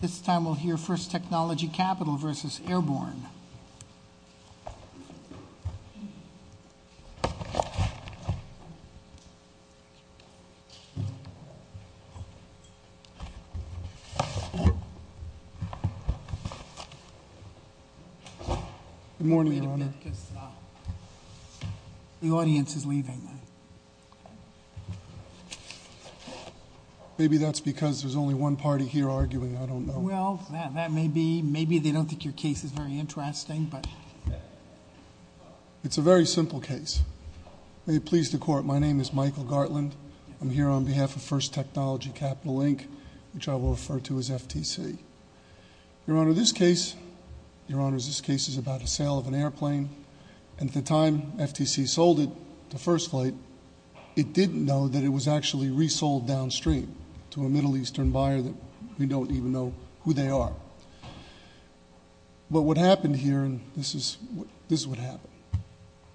This time we'll hear First Technology Capital versus Airborne. Good morning, Your Honor. The audience is leaving. Maybe that's because there's only one party here arguing. I don't know. Well, that may be. Maybe they don't think your case is very interesting. It's a very simple case. May it please the Court, my name is Michael Gartland. I'm here on behalf of First Technology Capital, Inc., which I will refer to as FTC. Your Honor, this case is about a sale of an airplane. And at the time FTC sold it to First Flight, it didn't know that it was actually resold downstream to a Middle Eastern buyer that we don't even know who they are. But what happened here, and this is what happened.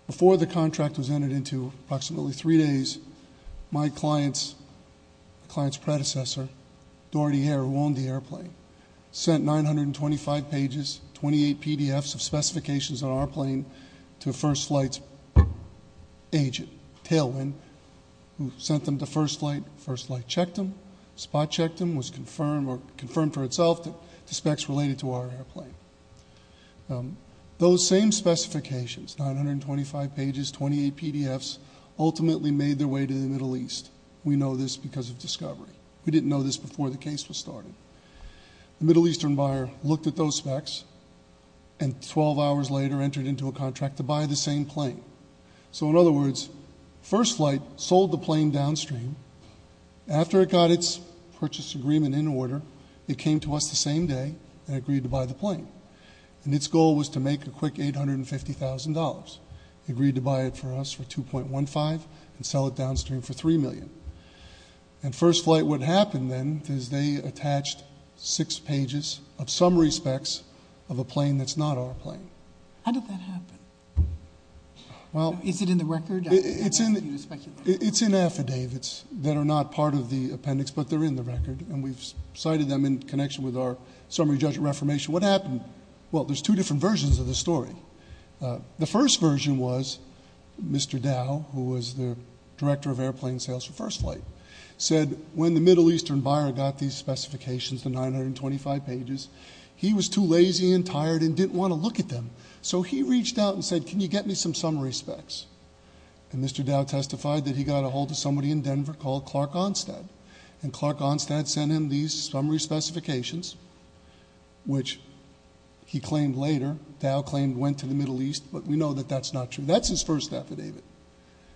Before the contract was entered into, approximately three days, my client's predecessor, Doherty Air, who owned the airplane, sent 925 pages, 28 PDFs of specifications on our plane to First Flight's agent, Tailwind, who sent them to First Flight. First Flight checked them, spot checked them, was confirmed for itself the specs related to our airplane. Those same specifications, 925 pages, 28 PDFs, ultimately made their way to the Middle East. We know this because of discovery. We didn't know this before the case was started. The Middle Eastern buyer looked at those specs, and 12 hours later entered into a contract to buy the same plane. So in other words, First Flight sold the plane downstream. After it got its purchase agreement in order, it came to us the same day and agreed to buy the plane. And its goal was to make a quick $850,000. It agreed to buy it for us for $2.15 million and sell it downstream for $3 million. And First Flight, what happened then is they attached six pages of summary specs of a plane that's not our plane. How did that happen? Is it in the record? It's in affidavits that are not part of the appendix, but they're in the record, and we've cited them in connection with our summary judgment reformation. What happened? Well, there's two different versions of the story. The first version was Mr. Dow, who was the director of airplane sales for First Flight, said when the Middle Eastern buyer got these specifications, the 925 pages, he was too lazy and tired and didn't want to look at them. So he reached out and said, can you get me some summary specs? And Mr. Dow testified that he got a hold of somebody in Denver called Clark Onstad, and Clark Onstad sent him these summary specifications, which he claimed later. Dow claimed went to the Middle East, but we know that that's not true. That's his first affidavit.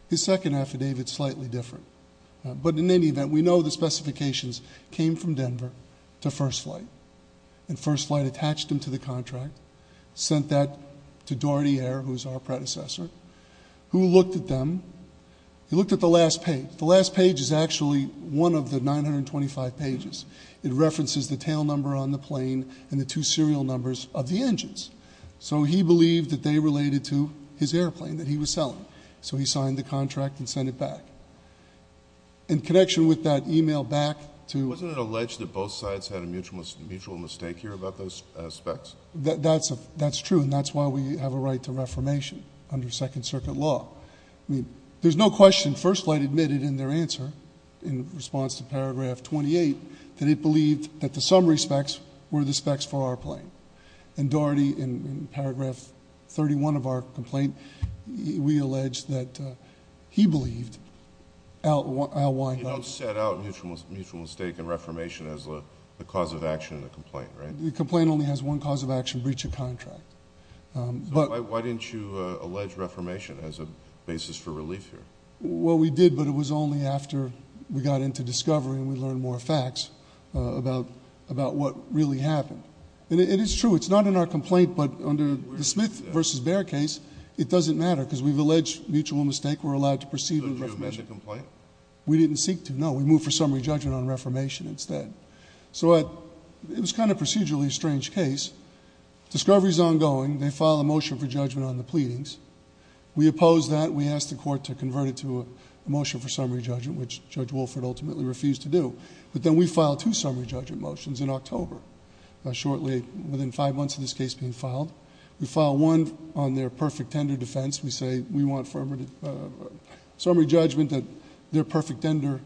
His second affidavit's slightly different. But in any event, we know the specifications came from Denver to First Flight, and First Flight attached them to the contract, sent that to Dorothy Ayer, who was our predecessor, who looked at them. He looked at the last page. The last page is actually one of the 925 pages. It references the tail number on the plane and the two serial numbers of the engines. So he believed that they related to his airplane that he was selling. So he signed the contract and sent it back. In connection with that e-mail back to ---- Wasn't it alleged that both sides had a mutual mistake here about those specs? That's true, and that's why we have a right to reformation under Second Circuit law. I mean, there's no question First Flight admitted in their answer, in response to Paragraph 28, that it believed that the summary specs were the specs for our plane. And Dorothy, in Paragraph 31 of our complaint, we allege that he believed Al Wyhock. You don't set out mutual mistake and reformation as the cause of action in the complaint, right? The complaint only has one cause of action, breach of contract. Why didn't you allege reformation as a basis for relief here? Well, we did, but it was only after we got into discovery and we learned more facts about what really happened. And it's true. It's not in our complaint, but under the Smith v. Bair case, it doesn't matter because we've alleged mutual mistake. We're allowed to proceed with reformation. So did you amend the complaint? We didn't seek to, no. We moved for summary judgment on reformation instead. So it was kind of procedurally a strange case. Discovery is ongoing. They file a motion for judgment on the pleadings. We opposed that. We asked the court to convert it to a motion for summary judgment, which Judge Wolford ultimately refused to do. But then we filed two summary judgment motions in October, shortly within five months of this case being filed. We filed one on their perfect tender defense. We say we want summary judgment that their perfect tender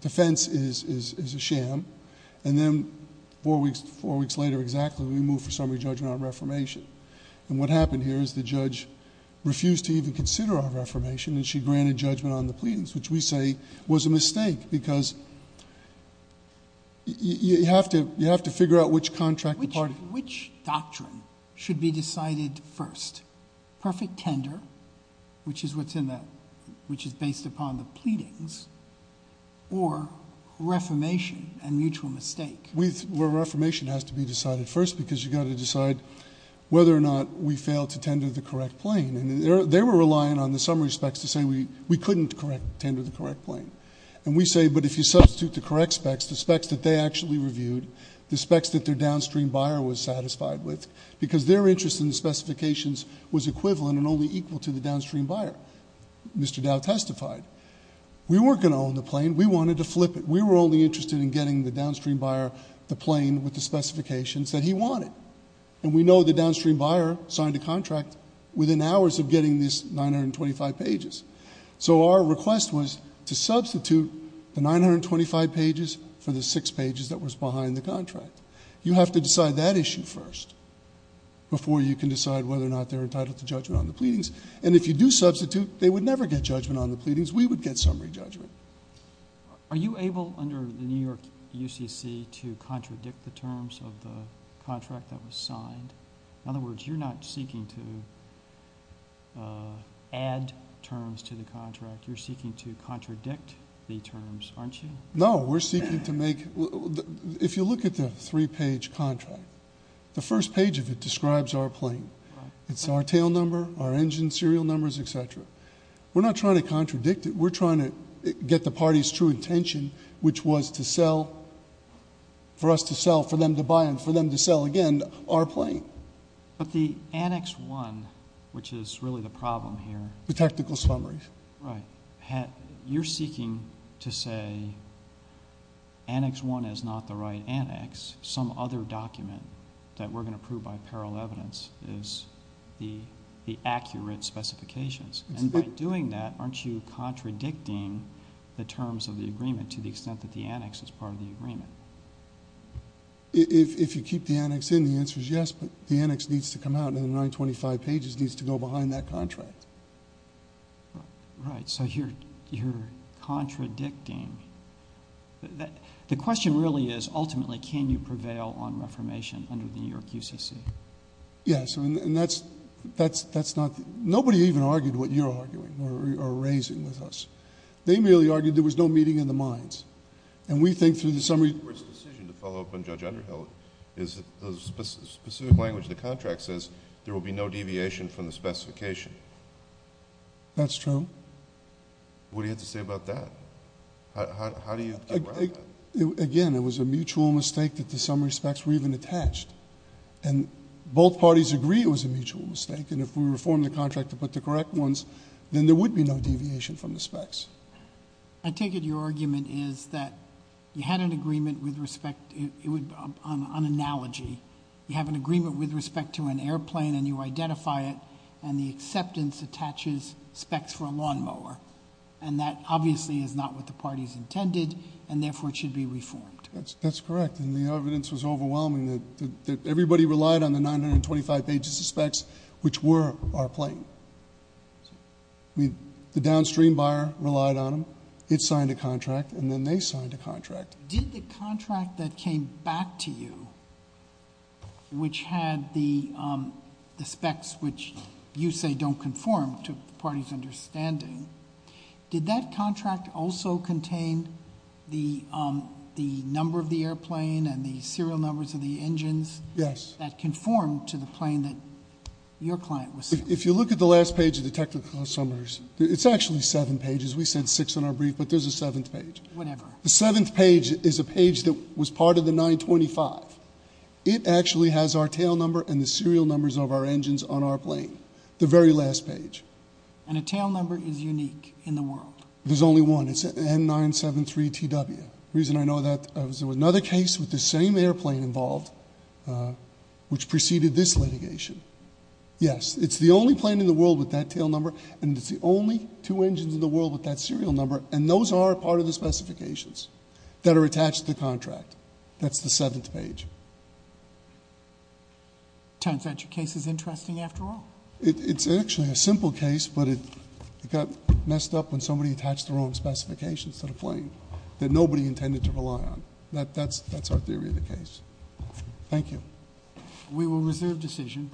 defense is a sham. And then four weeks later exactly, we moved for summary judgment on reformation. And what happened here is the judge refused to even consider our reformation and she granted judgment on the pleadings, which we say was a mistake because you have to figure out which contract to party. Which doctrine should be decided first? Perfect tender, which is based upon the pleadings, or reformation and mutual mistake? Well, reformation has to be decided first because you've got to decide whether or not we fail to tender the correct plane. And they were relying on the summary specs to say we couldn't tender the correct plane. And we say, but if you substitute the correct specs, the specs that they actually reviewed, the specs that their downstream buyer was satisfied with, because their interest in the specifications was equivalent and only equal to the downstream buyer. Mr. Dow testified. We weren't going to own the plane. We wanted to flip it. We were only interested in getting the downstream buyer the plane with the specifications that he wanted. And we know the downstream buyer signed a contract within hours of getting these 925 pages. So our request was to substitute the 925 pages for the six pages that was behind the contract. You have to decide that issue first before you can decide whether or not they're entitled to judgment on the pleadings. And if you do substitute, they would never get judgment on the pleadings. We would get summary judgment. Are you able, under the New York UCC, to contradict the terms of the contract that was signed? In other words, you're not seeking to add terms to the contract. You're seeking to contradict the terms, aren't you? No. We're seeking to make, if you look at the three-page contract, the first page of it describes our plane. It's our tail number, our engine serial numbers, et cetera. We're not trying to contradict it. We're trying to get the party's true intention, which was to sell, for us to sell, for them to buy and for them to sell again our plane. But the Annex 1, which is really the problem here. The technical summaries. Right. You're seeking to say Annex 1 is not the right annex. Some other document that we're going to prove by parallel evidence is the accurate specifications. And by doing that, aren't you contradicting the terms of the agreement to the extent that the annex is part of the agreement? If you keep the annex in, the answer is yes. But the annex needs to come out, and the 925 pages needs to go behind that contract. Right. So you're contradicting. The question really is, ultimately, can you prevail on reformation under the New York UCC? Yes. And that's not... nobody even argued what you're arguing or raising with us. They merely argued there was no meeting in the minds. And we think through the summary... The Court's decision to follow up on Judge Underhill is that the specific language of the contract says there will be no deviation from the specification. That's true. What do you have to say about that? How do you get around that? Again, it was a mutual mistake that the summary specs were even attached. And both parties agree it was a mutual mistake. And if we reform the contract to put the correct ones, then there would be no deviation from the specs. I take it your argument is that you had an agreement with respect... an analogy. You have an agreement with respect to an airplane, and you identify it, and the acceptance attaches specs for a lawnmower. And that, obviously, is not what the parties intended, and therefore, it should be reformed. That's correct. And the evidence was overwhelming that everybody relied on the 925 pages of specs, which were our plane. The downstream buyer relied on them. It signed a contract, and then they signed a contract. Did the contract that came back to you, which had the specs which you say don't conform to the parties' understanding, did that contract also contain the number of the airplane and the serial numbers of the engines... Yes.... that conformed to the plane that your client was... If you look at the last page of the technical summaries, it's actually seven pages. We said six in our brief, but there's a seventh page. Whatever. The seventh page is a page that was part of the 925. It actually has our tail number and the serial numbers of our engines on our plane, the very last page. And a tail number is unique in the world. There's only one. It's N973TW. The reason I know that is there was another case with the same airplane involved, which preceded this litigation. Yes. It's the only plane in the world with that tail number, and it's the only two engines in the world with that serial number. And those are part of the specifications that are attached to the contract. That's the seventh page. It turns out your case is interesting after all. It's actually a simple case, but it got messed up when somebody attached the wrong specifications to the plane that nobody intended to rely on. That's our theory of the case. Thank you. We will reserve decision.